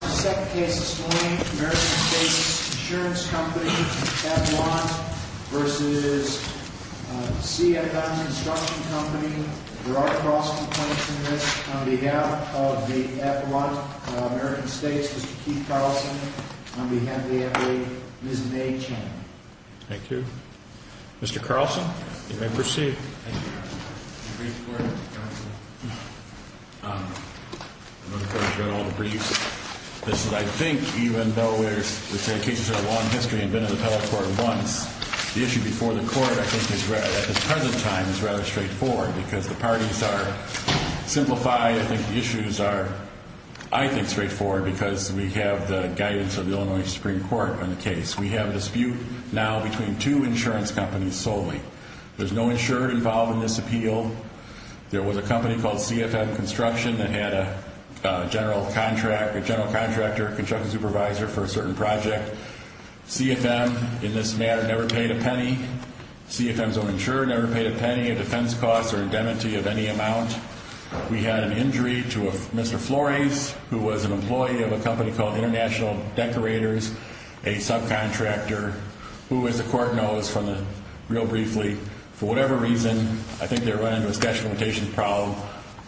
There are cross-complaints in this on behalf of the Avalon American States, Mr. Keith Carlson, on behalf of the NBA, Ms. May Chan. Thank you. Mr. Carlson, you may proceed. Thank you. I think even though the cases are a long history and have been in the appellate court once, the issue before the court at the present time is rather straightforward because the parties are simplified. I think the issues are, I think, straightforward because we have the guidance of the Illinois Supreme Court on the case. We have a dispute now between two insurance companies solely. There's no insurer involved in this appeal. There was a company called CFM Construction that had a general contractor, a construction supervisor for a certain project. CFM, in this matter, never paid a penny. CFM's own insurer never paid a penny of defense costs or indemnity of any amount. We had an injury to a Mr. Flores, who was an employee of a company called International Decorators, a subcontractor, who, as the court knows from the, real briefly, for whatever reason, I think they were running into a statute of limitations problem,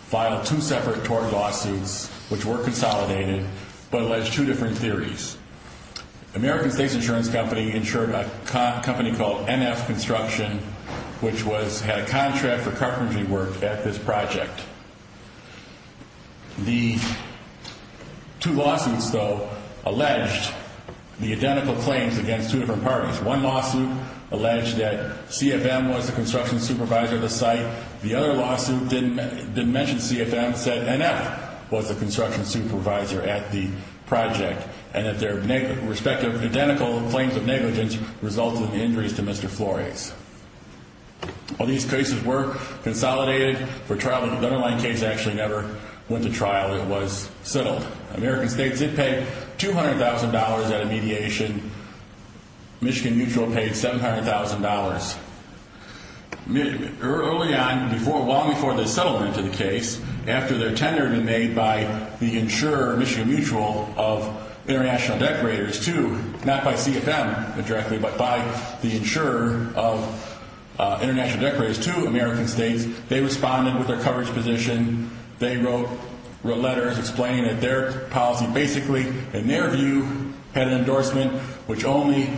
filed two separate tort lawsuits, which were consolidated, but alleged two different theories. American States Insurance Company insured a company called NF Construction, which had a contract for carpentry work at this project. The two lawsuits, though, alleged the identical claims against two different parties. One lawsuit alleged that CFM was the construction supervisor of the site. The other lawsuit didn't mention CFM, said NF was the construction supervisor at the project, and that their respective identical claims of negligence resulted in injuries to Mr. Flores. All these cases were consolidated for trial, but the Dunner Line case actually never went to trial. It was settled. American States did pay $200,000 at a mediation. Michigan Mutual paid $700,000. Early on, long before the settlement of the case, after their tender had been made by the insurer, Michigan Mutual, of International Decorators II, not by CFM directly, but by the insurer of International Decorators II, American States, they responded with their coverage position. They wrote letters explaining that their policy basically, in their view, had an endorsement, which only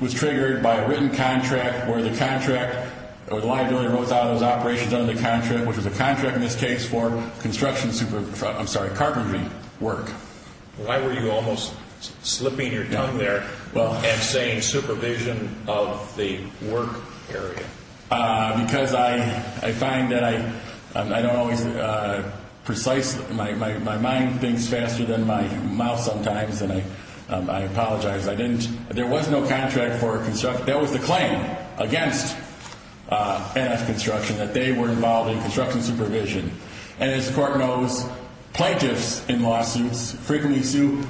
was triggered by a written contract, where the contract was a liability that was wrote out of those operations under the contract, which was a contract in this case for construction, I'm sorry, carpentry work. Why were you almost slipping your tongue there and saying supervision of the work area? Because I find that I don't always precise. My mind thinks faster than my mouth sometimes, and I apologize. There was no contract for construction. That was the claim against NF Construction, that they were involved in construction supervision. And as the court knows, plaintiffs in lawsuits frequently sue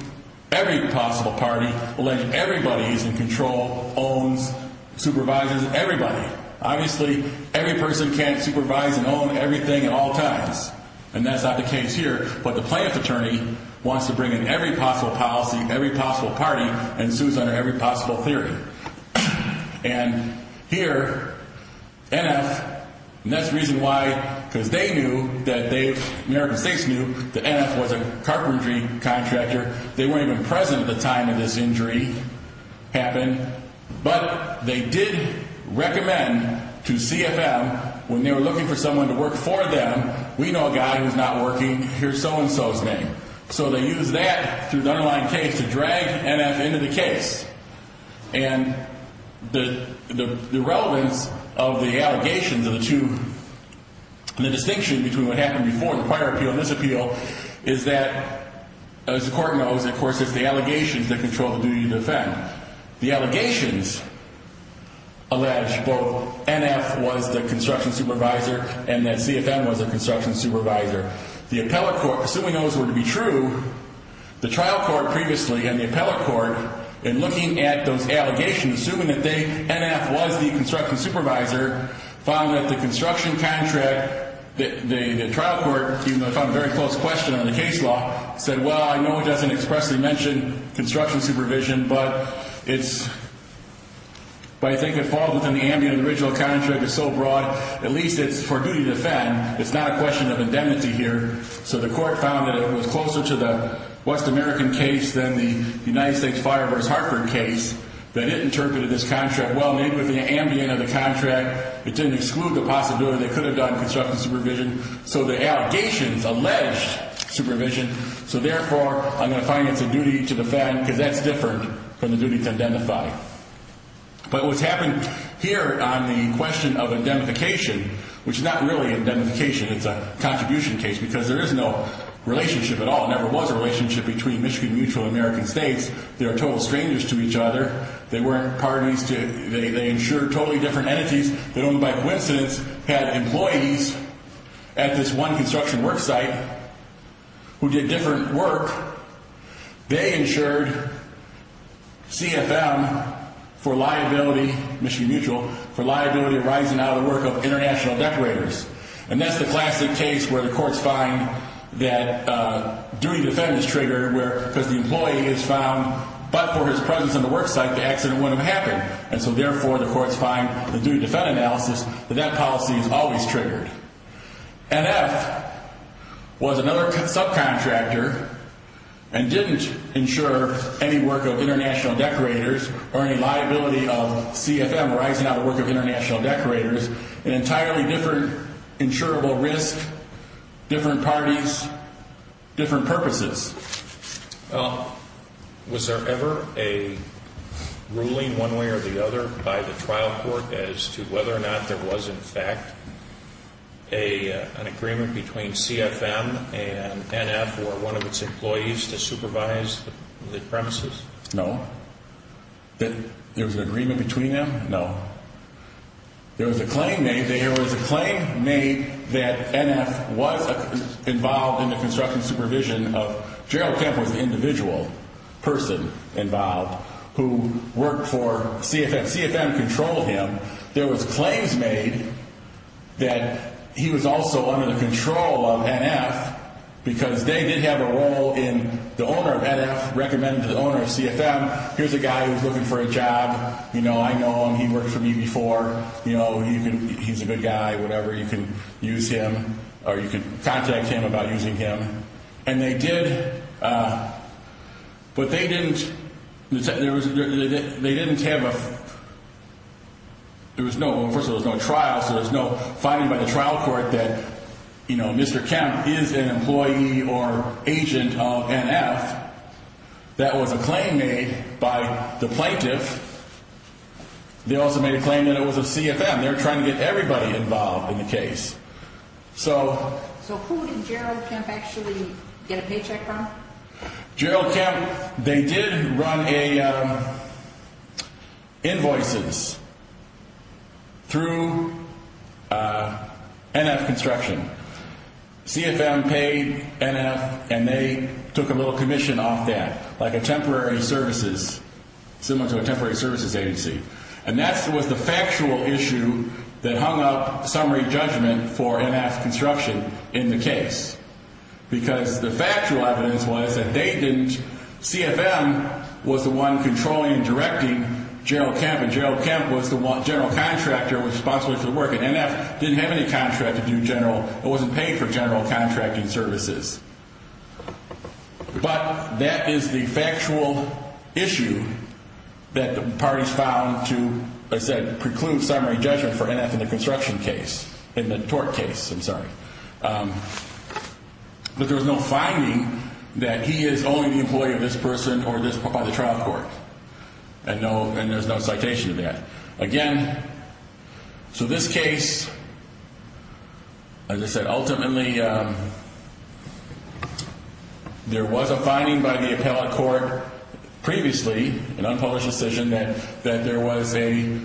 every possible party, but the plaintiff's client alleges everybody is in control, owns, supervises everybody. Obviously, every person can't supervise and own everything at all times, and that's not the case here, but the plaintiff attorney wants to bring in every possible policy, every possible party, and sue under every possible theory. And here, NF, and that's the reason why, because they knew that they, American States knew, that NF was a carpentry contractor. They weren't even present at the time that this injury happened, but they did recommend to CFM when they were looking for someone to work for them, we know a guy who's not working, here's so-and-so's name. So they used that through the underlying case to drag NF into the case. And the relevance of the allegations of the two, the distinction between what happened before the prior appeal and this appeal, is that, as the court knows, of course, it's the allegations that control the duty to defend. The allegations allege both NF was the construction supervisor and that CFM was the construction supervisor. The appellate court, assuming those were to be true, the trial court previously and the appellate court, in looking at those allegations, assuming that NF was the construction supervisor, found that the construction contract, the trial court, even though they found a very close question on the case law, said, well, I know it doesn't expressly mention construction supervision, but I think it falls within the ambient of the original contract, it's so broad, at least it's for duty to defend, it's not a question of indemnity here. So the court found that it was closer to the West American case than the United States Fire vs. Hartford case, that it interpreted this contract well within the ambient of the contract, it didn't exclude the possibility they could have done construction supervision, so the allegations alleged supervision, so therefore, I'm going to find it's a duty to defend, because that's different from the duty to identify. But what's happened here on the question of indemnification, which is not really indemnification, it's a contribution case, because there is no relationship at all, there never was a relationship between Michigan Mutual and American States, they were total strangers to each other, they weren't parties, they insured totally different entities, they only by coincidence had employees at this one construction work site who did different work, they insured CFM for liability, Michigan Mutual, for liability of rising out of the work of international decorators. And that's the classic case where the courts find that duty to defend is triggered, because the employee is found, but for his presence on the work site, the accident wouldn't have happened, and so therefore the courts find, the duty to defend analysis, that that policy is always triggered. NF was another subcontractor, and didn't insure any work of international decorators, or any liability of CFM rising out of the work of international decorators, an entirely different insurable risk, different parties, different purposes. Well, was there ever a ruling one way or the other by the trial court as to whether or not there was in fact an agreement between CFM and NF or one of its employees to supervise the premises? No. There was an agreement between them? No. There was a claim made that NF was involved in the construction supervision of, Gerald Kemp was the individual person involved who worked for CFM, CFM controlled him, there was claims made that he was also under the control of NF, because they did have a role in, the owner of NF recommended to the owner of CFM, here's a guy who's looking for a job, you know, I know him, he worked for me before, you know, he's a good guy, whatever, you can use him, or you can contact him about using him, and they did, but they didn't, they didn't have a, there was no, first of all, there was no trial, so there's no finding by the trial court that, you know, Mr. Kemp is an employee or agent of NF, that was a claim made by the plaintiff, they also made a claim that it was a CFM, they're trying to get everybody involved in the case, so. So who did Gerald Kemp actually get a paycheck from? Gerald Kemp, they did run a, invoices through NF construction, CFM paid NF and they took a little commission off that, like a temporary services, similar to a temporary services agency, and that was the factual issue that hung up summary judgment for NF construction in the case, because the factual evidence was that they didn't, CFM was the one controlling and directing Gerald Kemp, and Gerald Kemp was the one, general contractor responsible for the work, and NF didn't have any contract to do general, it wasn't paid for general contracting services. But that is the factual issue that the parties found to, as I said, preclude summary judgment for NF in the construction case, in the tort case, I'm sorry. But there was no finding that he is only the employee of this person or this, by the trial court. And no, and there's no citation of that. Again, so this case, as I said, ultimately, there was a finding by the appellate court previously, an unpublished decision, that there was a,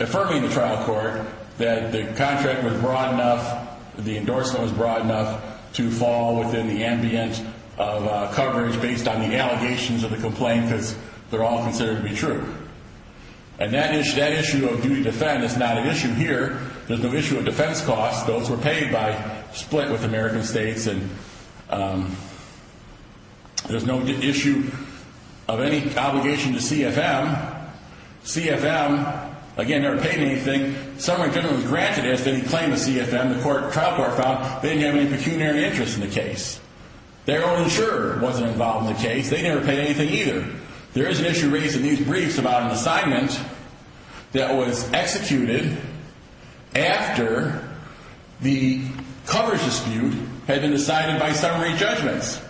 affirming the trial court, that the contract was broad enough, the endorsement was broad enough to fall within the ambient of coverage based on the allegations of the complaint, because they're all considered to be true. And that issue of duty to defend is not an issue here. There's no issue of defense costs. Those were paid by split with American states, and there's no issue of any obligation to CFM. CFM, again, never paid anything. Summary judgment was granted as to any claim to CFM. The trial court found they didn't have any pecuniary interest in the case. Their own insurer wasn't involved in the case. They never paid anything either. There is an issue raised in these briefs about an assignment that was executed after the coverage dispute had been decided by summary judgments.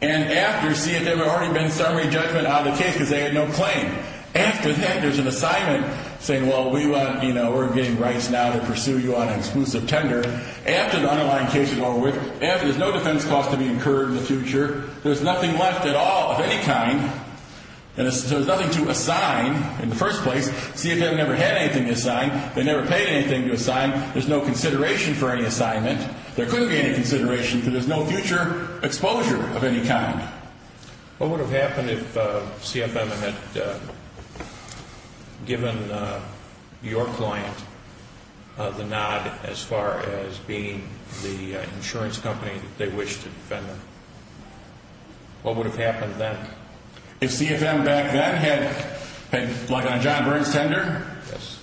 And after CFM, there had already been summary judgment on the case because they had no claim. After that, there's an assignment saying, well, we want, you know, we're getting rights now to pursue you on an exclusive tender. After the underlying case is over, there's no defense cost to be incurred in the future. There's nothing left at all of any kind, and there's nothing to assign in the first place. CFM never had anything to assign. They never paid anything to assign. There's no consideration for any assignment. There couldn't be any consideration because there's no future exposure of any kind. What would have happened if CFM had given your client the nod as far as being the insurance company they wished to defend them? What would have happened then? If CFM back then had, like on John Byrne's tender? Yes.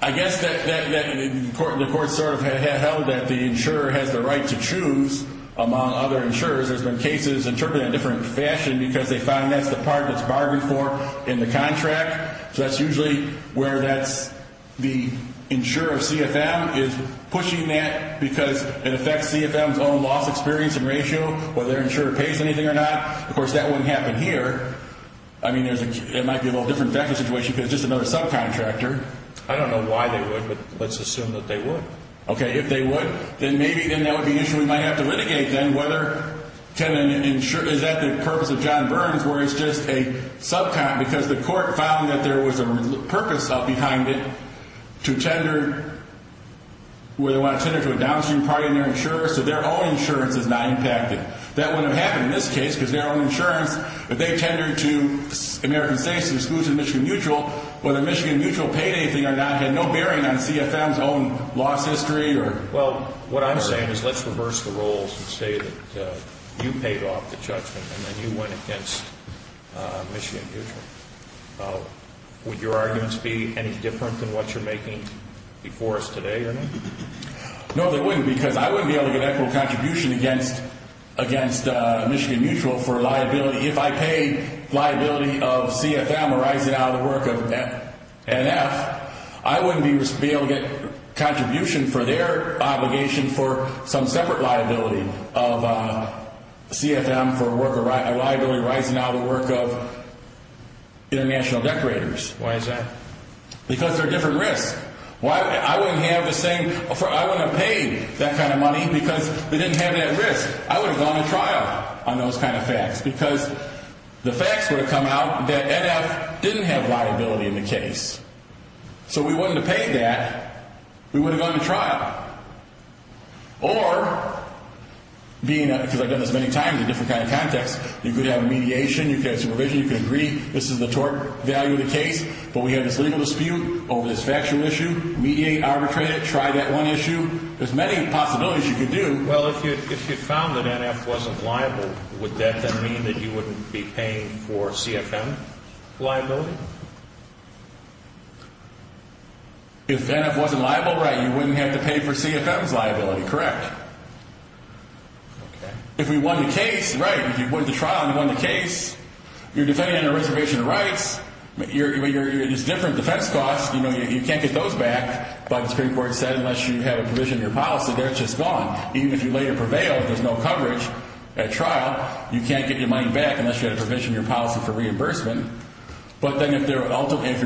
I guess that the court sort of held that the insurer has the right to choose among other insurers. There's been cases interpreted in a different fashion because they find that's the part that's bargained for in the contract. So that's usually where that's the insurer of CFM is pushing that because it affects CFM's own loss experience and ratio, whether their insurer pays anything or not. Of course, that wouldn't happen here. I mean, it might be a little different factor situation because it's just another subcontractor. I don't know why they would, but let's assume that they would. If they would, then maybe that would be an issue we might have to litigate then. Is that the purpose of John Byrne's where it's just a subcontractor? Because the court found that there was a purpose up behind it to tender to a downstream party and their insurer, so their own insurance is not impacted. That wouldn't have happened in this case because their own insurance, if they tendered to American States and exclusive Michigan Mutual, whether Michigan Mutual paid anything or not had no bearing on CFM's own loss history. Well, what I'm saying is let's reverse the roles and say that you paid off the judgment and then you went against Michigan Mutual. Would your arguments be any different than what you're making before us today? No, they wouldn't because I wouldn't be able to get equitable contribution against Michigan Mutual for liability. If I paid liability of CFM arising out of the work of NF, I wouldn't be able to get contribution for their obligation for some separate liability of CFM for a liability arising out of the work of international decorators. Why is that? Because they're a different risk. I wouldn't have paid that kind of money because they didn't have that risk. I would have gone to trial on those kind of facts because the facts would have come out that NF didn't have liability in the case. So we wouldn't have paid that. We would have gone to trial. Or, because I've done this many times in a different kind of context, you could have mediation, you could have supervision, you could agree this is the tort value of the case, but we have this legal dispute over this factual issue, mediate, arbitrate it, try that one issue. There's many possibilities you could do. Well, if you found that NF wasn't liable, would that then mean that you wouldn't be paying for CFM liability? If NF wasn't liable, right, you wouldn't have to pay for CFM's liability. Correct. Okay. If we won the case, right, if you went to trial and you won the case, you're defending a reservation of rights, but it's different defense costs. You know, you can't get those back. But the Supreme Court said unless you have a provision in your policy, they're just gone. Even if you later prevail, if there's no coverage at trial, you can't get your money back unless you have a provision in your policy for reimbursement. But then if you're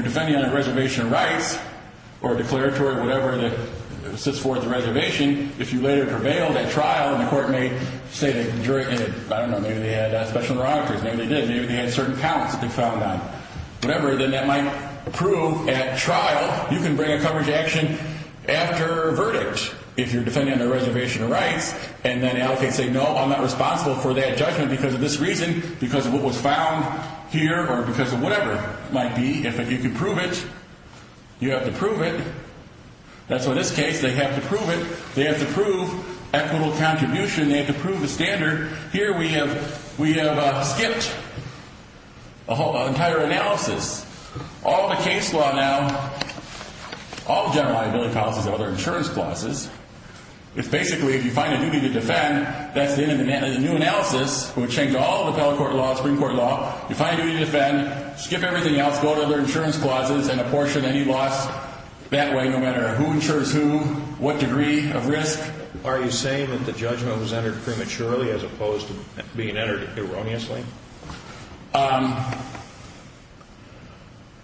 defending on a reservation of rights or a declaratory or whatever that sits for the reservation, if you later prevail at trial and the court may say that, I don't know, maybe they had special derogatories, maybe they did, maybe they had certain counts that they found on, whatever, then that might prove at trial you can bring a coverage action after a verdict if you're defending on a reservation of rights and then allocate and say, no, I'm not responsible for that judgment because of this reason, because of what was found here or because of whatever it might be. If you can prove it, you have to prove it. That's why in this case they have to prove it. They have to prove equitable contribution. They have to prove the standard. Here we have skipped an entire analysis. All the case law now, all the general liability policies are other insurance clauses. It's basically if you find a duty to defend, that's the end of the analysis. It would change all the appellate court law, Supreme Court law. You find a duty to defend, skip everything else, go to other insurance clauses, and apportion any loss that way no matter who insures who, what degree of risk. Are you saying that the judgment was entered prematurely as opposed to being entered erroneously? I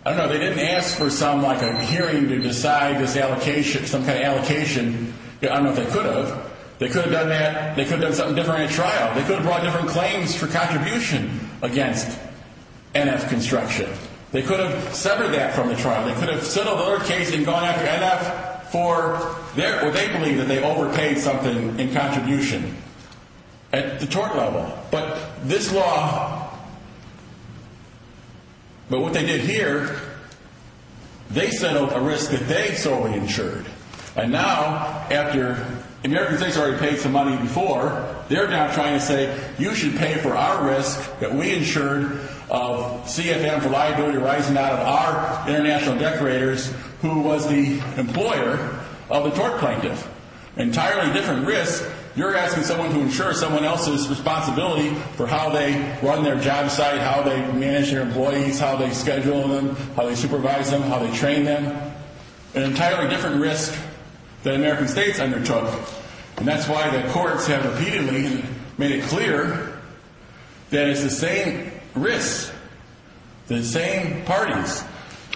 don't know. They didn't ask for some like a hearing to decide this allocation, some kind of allocation. I don't know if they could have. They could have done that. They could have done something different at trial. They could have brought different claims for contribution against NF construction. They could have severed that from the trial. They could have settled their case and gone after NF for their, or they believe that they overpaid something in contribution at the tort level. But this law, but what they did here, they settled a risk that they solely insured. And now after American States already paid some money before, they're now trying to say you should pay for our risk that we insured of CFM for liability arising out of our international decorators who was the employer of the tort plaintiff. Entirely different risk. You're asking someone to insure someone else's responsibility for how they run their job site, how they manage their employees, how they schedule them, how they supervise them, how they train them. An entirely different risk than American States undertook. And that's why the courts have repeatedly made it clear that it's the same risk, the same parties.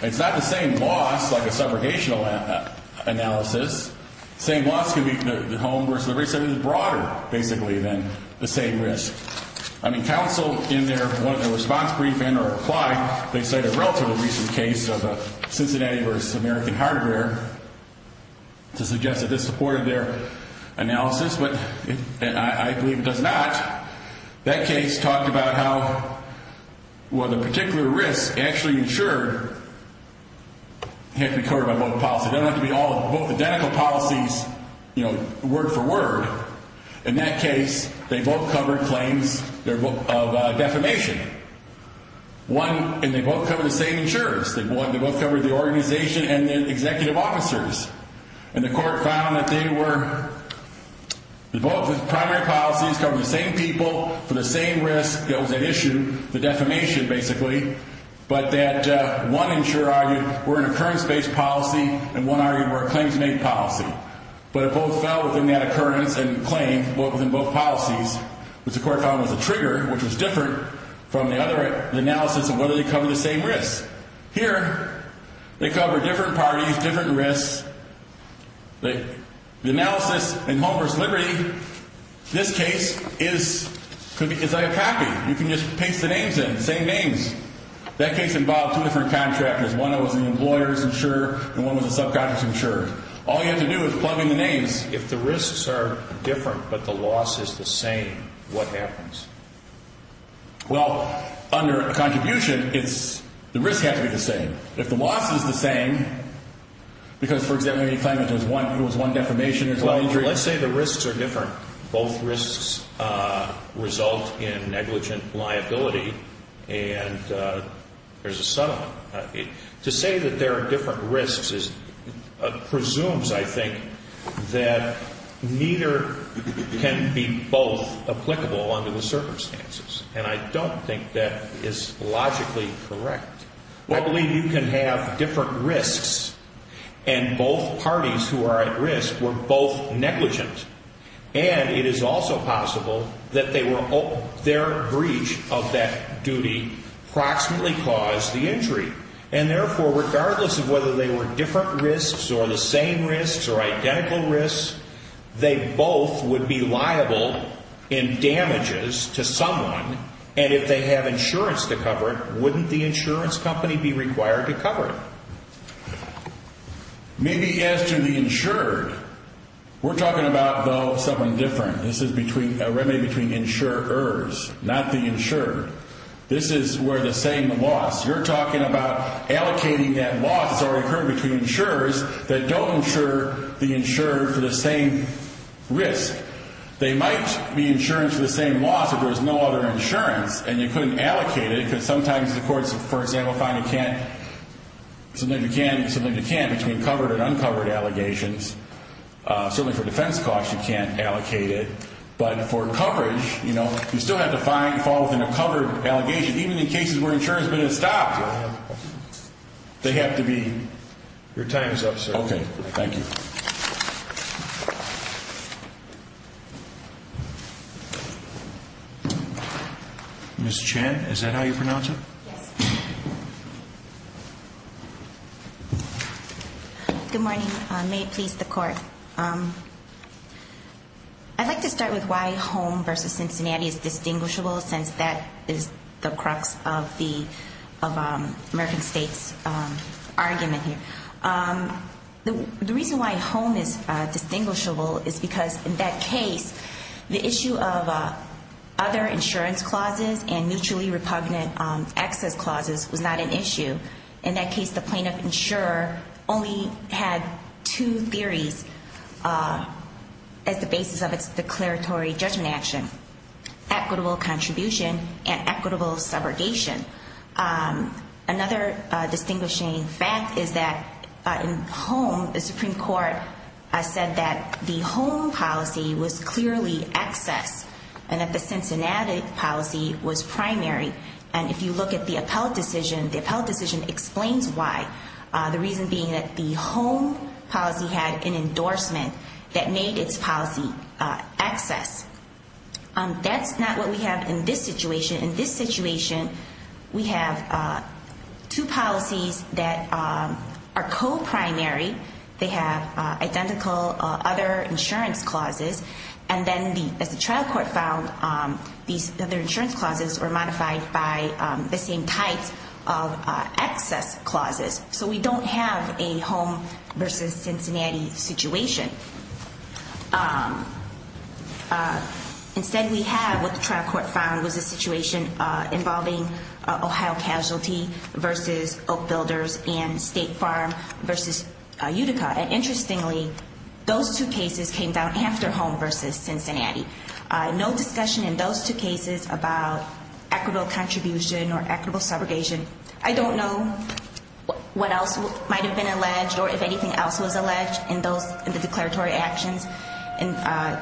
It's not the same loss like a subrogational analysis. The same loss could be the home versus the race. It's broader, basically, than the same risk. I mean, counsel in their response briefing or reply, they cite a relatively recent case of Cincinnati versus American Hardware to suggest that this supported their analysis. But I believe it does not. That case talked about how the particular risk actually insured had to be covered by both policies. It doesn't have to be both identical policies, you know, word for word. In that case, they both covered claims of defamation. And they both covered the same insurers. They both covered the organization and the executive officers. And the court found that they were both primary policies covering the same people for the same risk that was at issue, the defamation, basically, but that one insurer argued were an occurrence-based policy and one argued were a claims-made policy. But it both fell within that occurrence and claim, both within both policies, which the court found was a trigger, which was different from the other analysis of whether they covered the same risk. Here, they covered different parties, different risks. The analysis in Homer's Liberty, this case, is a copy. You can just paste the names in, the same names. That case involved two different contractors. One was an employer's insurer and one was a subcontractor's insurer. All you have to do is plug in the names. If the risks are different but the loss is the same, what happens? Well, under a contribution, the risk has to be the same. If the loss is the same, because, for example, you claim there was one defamation, there's one injury. Let's say the risks are different. Both risks result in negligent liability, and there's a settlement. To say that there are different risks presumes, I think, that neither can be both applicable under the circumstances, and I don't think that is logically correct. I believe you can have different risks, and both parties who are at risk were both negligent, and it is also possible that their breach of that duty approximately caused the injury. And, therefore, regardless of whether they were different risks or the same risks or identical risks, they both would be liable in damages to someone, and if they have insurance to cover it, wouldn't the insurance company be required to cover it? Maybe as to the insured, we're talking about, though, something different. This is a remedy between insurers, not the insured. This is where the same loss. You're talking about allocating that loss that's already occurred between insurers that don't insure the insured for the same risk. They might be insured for the same loss if there was no other insurance, and you couldn't allocate it because sometimes the courts, for example, find you can't, sometimes you can, sometimes you can't, between covered and uncovered allegations. Certainly for defense costs, you can't allocate it, but for coverage, you still have to fall within a covered allegation. Even in cases where insurance has been stopped, they have to be. Your time is up, sir. Okay, thank you. Ms. Chan, is that how you pronounce it? Yes. Good morning. May it please the Court. I'd like to start with why home versus Cincinnati is distinguishable since that is the crux of the American State's argument here. The reason why home is distinguishable is because in that case, the issue of other insurance clauses and mutually repugnant access clauses was not an issue. In that case, the plaintiff insurer only had two theories as the basis of its declaratory judgment action, equitable contribution and equitable subrogation. Another distinguishing fact is that in home, the Supreme Court said that the home policy was clearly access and that the Cincinnati policy was primary. And if you look at the appellate decision, the appellate decision explains why, the reason being that the home policy had an endorsement that made its policy access. That's not what we have in this situation. In this situation, we have two policies that are co-primary. They have identical other insurance clauses. And then as the trial court found, these other insurance clauses were modified by the same types of access clauses. So we don't have a home versus Cincinnati situation. Instead, we have what the trial court found was a situation involving Ohio Casualty versus Oak Builders and State Farm versus Utica. And interestingly, those two cases came down after home versus Cincinnati. No discussion in those two cases about equitable contribution or equitable subrogation. I don't know what else might have been alleged or if anything else was alleged in the declaratory actions in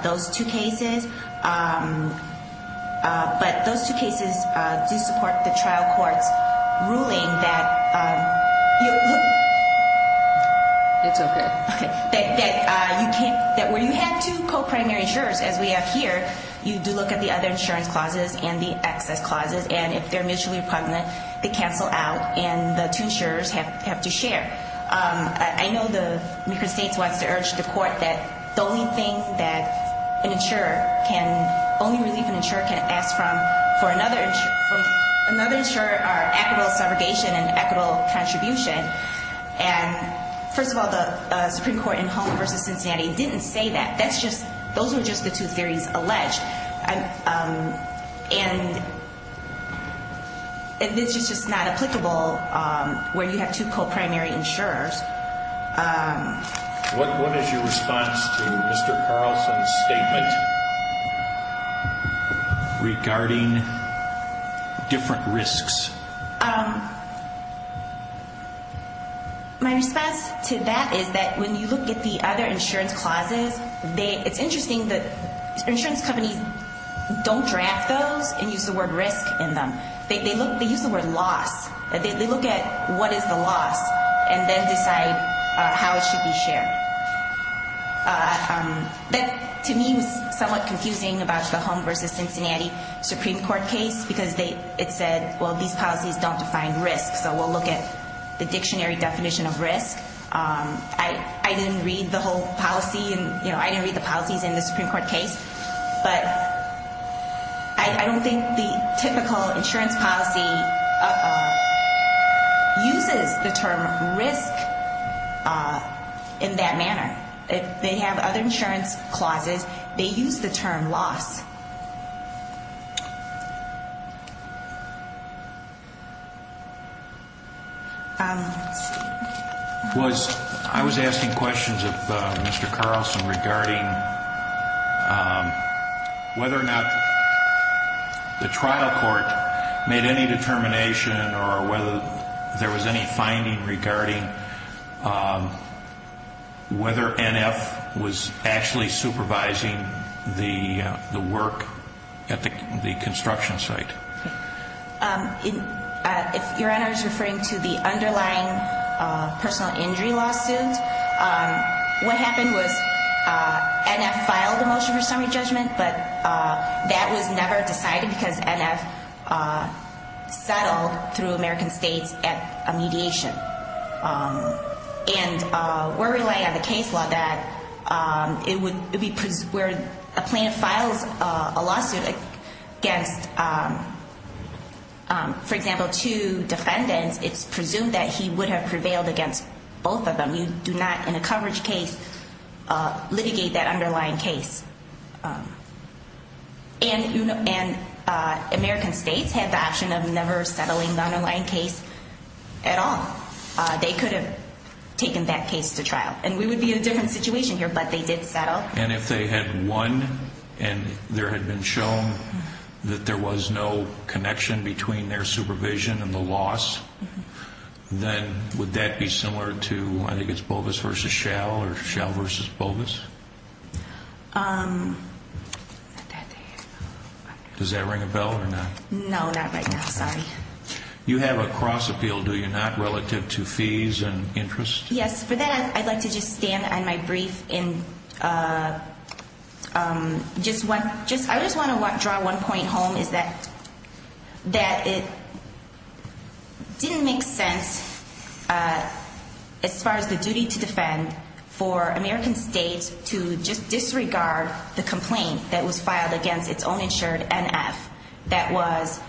those two cases. But those two cases do support the trial court's ruling that you can't, that when you have two co-primary insurers, as we have here, you do look at the other insurance clauses and the access clauses. And if they're mutually repugnant, they cancel out and the two insurers have to share. I know the American States wants to urge the court that the only thing that an insurer can, only relief an insurer can ask from for another insurer are equitable subrogation and equitable contribution. And first of all, the Supreme Court in home versus Cincinnati didn't say that. That's just, those were just the two theories alleged. And this is just not applicable where you have two co-primary insurers. What is your response to Mr. Carlson's statement regarding different risks? My response to that is that when you look at the other insurance clauses, it's interesting that insurance companies don't draft those and use the word risk in them. They use the word loss. They look at what is the loss and then decide how it should be shared. That, to me, was somewhat confusing about the home versus Cincinnati Supreme Court case because it said, well, these policies don't define risk, so we'll look at the dictionary definition of risk. I didn't read the whole policy and I didn't read the policies in the Supreme Court case, but I don't think the typical insurance policy uses the term risk in that manner. They have other insurance clauses. They use the term loss. I was asking questions of Mr. Carlson regarding whether or not the trial court made any determination or whether there was any finding regarding whether NF was actually supervising the work at the construction site. If Your Honor is referring to the underlying personal injury lawsuit, what happened was NF filed a motion for summary judgment, but that was never decided because NF settled through American States at a mediation. And we're relying on the case law where a plaintiff files a lawsuit against, for example, two defendants, it's presumed that he would have prevailed against both of them. You do not, in a coverage case, litigate that underlying case. And American States had the option of never settling the underlying case at all. They could have taken that case to trial. And we would be in a different situation here, but they did settle. And if they had won and there had been shown that there was no connection between their supervision and the loss, then would that be similar to, I think it's Bovis v. Schell or Schell v. Bovis? Does that ring a bell or not? No, not right now. Sorry. You have a cross appeal, do you not, relative to fees and interest? Yes. For that, I'd like to just stand on my brief. I just want to draw one point home is that it didn't make sense as far as the duty to defend for American States to just disregard the complaint that was filed against its own insured NF that was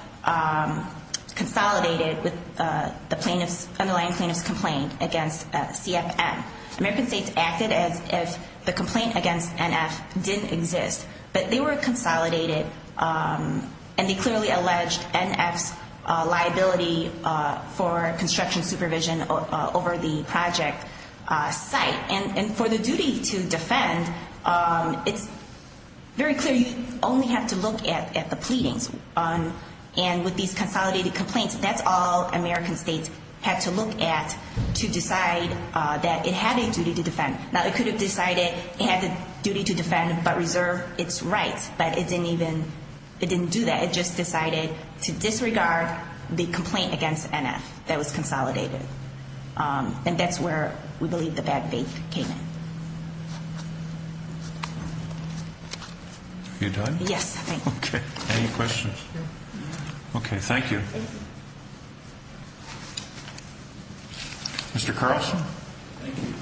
consolidated with the underlying plaintiff's complaint against CFM. American States acted as if the complaint against NF didn't exist. But they were consolidated and they clearly alleged NF's liability for construction supervision over the project site. And for the duty to defend, it's very clear you only have to look at the pleadings. And with these consolidated complaints, that's all American States had to look at to decide that it had a duty to defend. Now, it could have decided it had the duty to defend but reserve its rights, but it didn't do that. It just decided to disregard the complaint against NF that was consolidated. And that's where we believe the bad faith came in. Are you done? Yes. Okay. Any questions? No. Okay, thank you. Mr. Carlson? Thank you.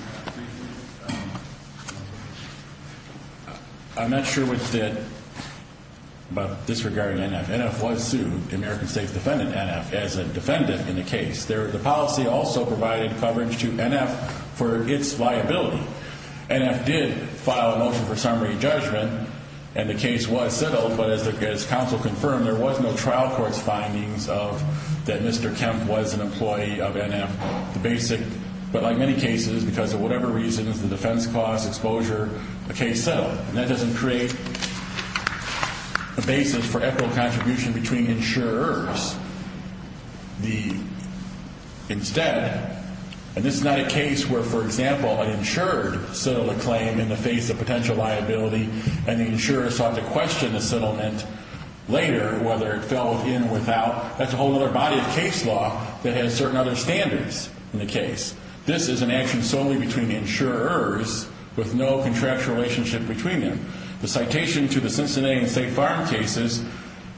I'm not sure what you did about disregarding NF. NF was sued, American States defended NF as a defendant in the case. The policy also provided coverage to NF for its liability. NF did file a motion for summary judgment, and the case was settled. But as counsel confirmed, there was no trial court's findings of that Mr. Kemp was an employee of NF. The basic, but like many cases, because of whatever reasons, the defense cost, exposure, the case settled. And that doesn't create a basis for equitable contribution between insurers. Instead, and this is not a case where, for example, an insured settled a claim in the face of potential liability, and the insurer sought to question the settlement later, whether it fell within or without. That's a whole other body of case law that has certain other standards in the case. This is an action solely between insurers with no contractual relationship between them. The citation to the Cincinnati and St. Farm cases,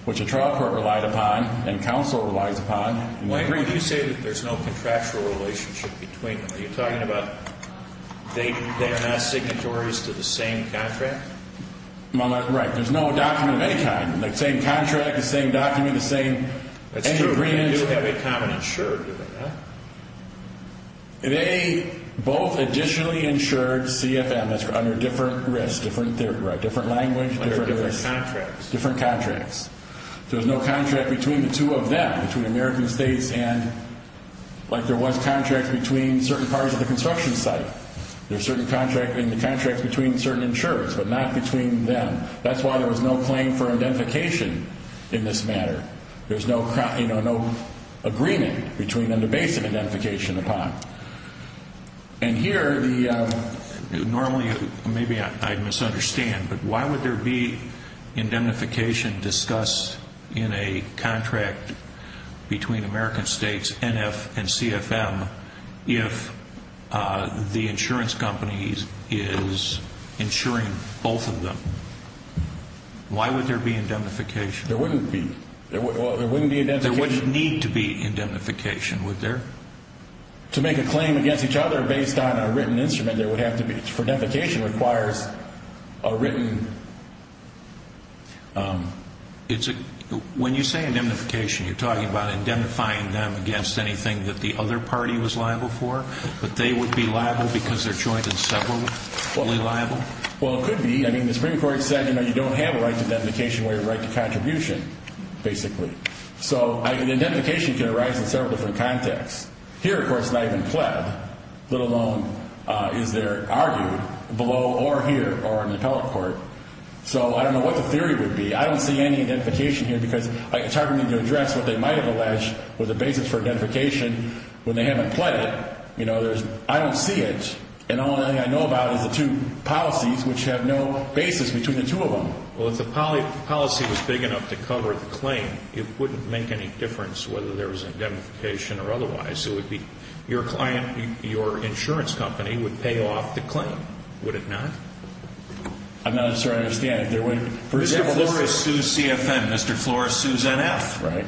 which a trial court relied upon and counsel relies upon. Why do you say that there's no contractual relationship between them? Are you talking about they are not signatories to the same contract? Right. There's no document of any kind. The same contract, the same document, the same, any agreement. That's true. They do have a common insurer, do they not? They both additionally insured CFM, that's under different risks, different language, different risks. Like different contracts. Different contracts. There's no contract between the two of them, between American States and, like there was contracts between certain parts of the construction site. There's certain contracts between certain insurers, but not between them. That's why there was no claim for identification in this matter. There's no agreement between them to base an identification upon. And here, normally, maybe I misunderstand, but why would there be identification discussed in a contract between American States, NF and CFM, if the insurance company is insuring both of them? Why would there be identification? There wouldn't be. There wouldn't need to be identification, would there? To make a claim against each other based on a written instrument, there would have to be. For identification requires a written... When you say identification, you're talking about indemnifying them against anything that the other party was liable for, but they would be liable because they're joined in several, fully liable? Well, it could be. I mean, the Supreme Court said you don't have a right to identification where you have a right to contribution, basically. So identification can arise in several different contexts. Here, of course, it's not even pled, let alone is there argued below or here or in the appellate court. So I don't know what the theory would be. I don't see any identification here because it's hard for me to address what they might have alleged with the basis for identification when they haven't pled it. I don't see it. And all I know about is the two policies which have no basis between the two of them. Well, if the policy was big enough to cover the claim, it wouldn't make any difference whether there was indemnification or otherwise. It would be your client, your insurance company would pay off the claim, would it not? I'm not sure I understand it. Mr. Flores sues CFM, Mr. Flores sues NF. Right.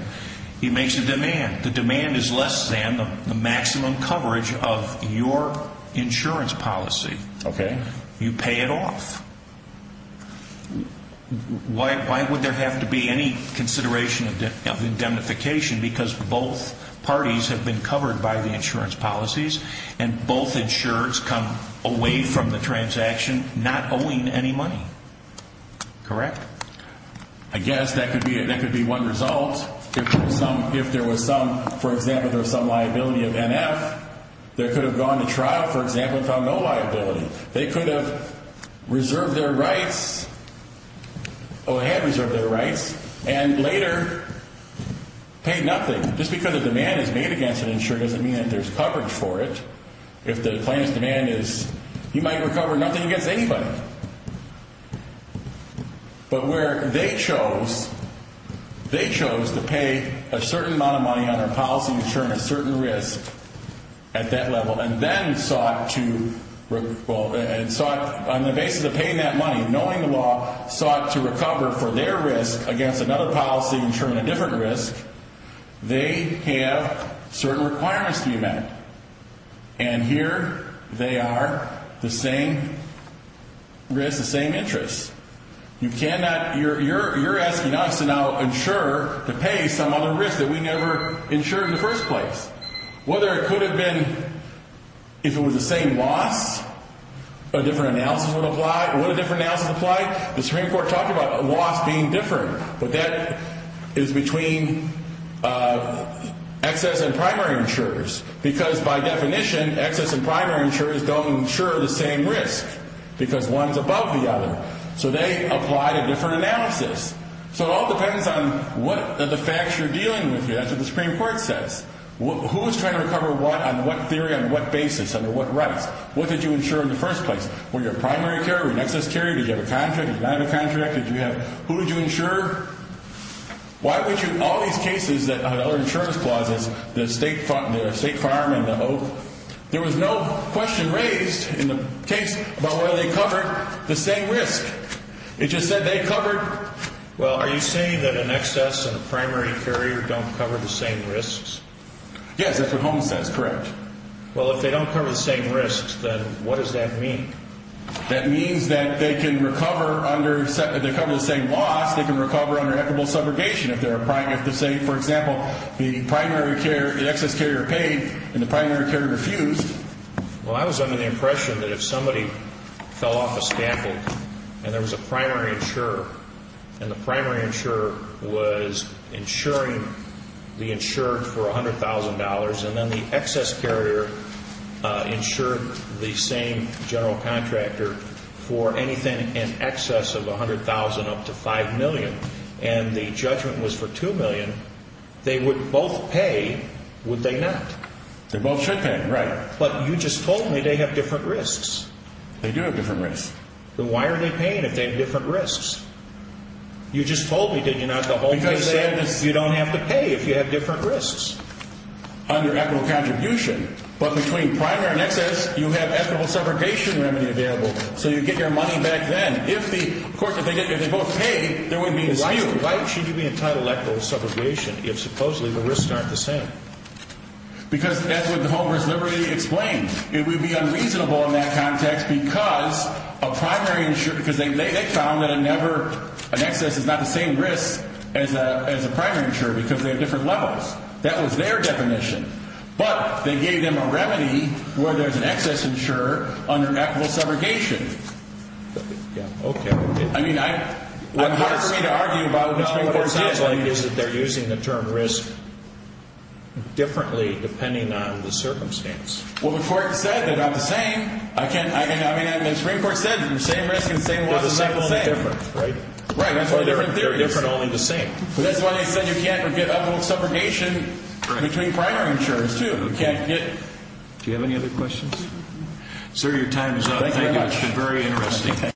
He makes a demand. The demand is less than the maximum coverage of your insurance policy. Okay. You pay it off. Why would there have to be any consideration of indemnification? Because both parties have been covered by the insurance policies, and both insurers come away from the transaction not owing any money. Correct? I guess that could be one result. If there was some, for example, there was some liability of NF, they could have gone to trial, for example, and found no liability. They could have reserved their rights, or had reserved their rights, and later paid nothing. Just because a demand is made against an insurer doesn't mean that there's coverage for it. If the claimant's demand is you might recover nothing against anybody. But where they chose, they chose to pay a certain amount of money on their policy to insure a certain risk at that level, and then sought to, on the basis of paying that money, knowing the law, sought to recover for their risk against another policy insuring a different risk, they have certain requirements to be met. And here they are, the same risk, the same interest. You cannot, you're asking us to now insure to pay some other risk that we never insured in the first place. Whether it could have been, if it was the same loss, a different analysis would apply, would a different analysis apply? The Supreme Court talked about a loss being different, but that is between excess and primary insurers, because by definition, excess and primary insurers don't insure the same risk, because one's above the other. So they apply a different analysis. So it all depends on what are the facts you're dealing with here. That's what the Supreme Court says. Who's trying to recover what, on what theory, on what basis, under what rights? What did you insure in the first place? Were you a primary carrier? Were you an excess carrier? Did you have a contract? Did you not have a contract? Did you have, who did you insure? Why would you, all these cases that had other insurance clauses, the state fireman, the oath, there was no question raised in the case about whether they covered the same risk. It just said they covered. Well, are you saying that an excess and a primary carrier don't cover the same risks? Yes, that's what Holmes says, correct. Well, if they don't cover the same risks, then what does that mean? That means that they can recover under, if they cover the same loss, they can recover under equitable subrogation if they're a primary, if they're saying, for example, the primary carrier, the excess carrier paid, and the primary carrier refused. Well, I was under the impression that if somebody fell off a scaffold and there was a primary insurer, and the primary insurer was insuring the insured for $100,000, and then the excess carrier insured the same general contractor for anything in excess of $100,000 up to $5 million, and the judgment was for $2 million, they would both pay, would they not? They both should pay, right. But you just told me they have different risks. They do have different risks. Then why are they paying if they have different risks? You just told me, didn't you, not the whole thing? Because you don't have to pay if you have different risks under equitable contribution. But between primary and excess, you have equitable subrogation remedy available, so you get your money back then. Of course, if they both pay, there wouldn't be a dispute. Why should you be entitled to equitable subrogation if supposedly the risks aren't the same? Because that's what the Homeowner's Liberty explained. It would be unreasonable in that context because a primary insurer, because they found that an excess is not the same risk as a primary insurer because they have different levels. That was their definition. But they gave them a remedy where there's an excess insurer under equitable subrogation. Yeah, okay. I mean, it's hard for me to argue about what the Supreme Court said. What it sounds like is that they're using the term risk differently depending on the circumstance. Well, the Court said they're not the same. I mean, the Supreme Court said the same risk and the same loss is not the same. They're the same, only different, right? Right, that's what the different theory is. They're different, only the same. That's why they said you can't get equitable subrogation between primary insurers too. Do you have any other questions? Sir, your time is up. Thank you very much. It's been very interesting.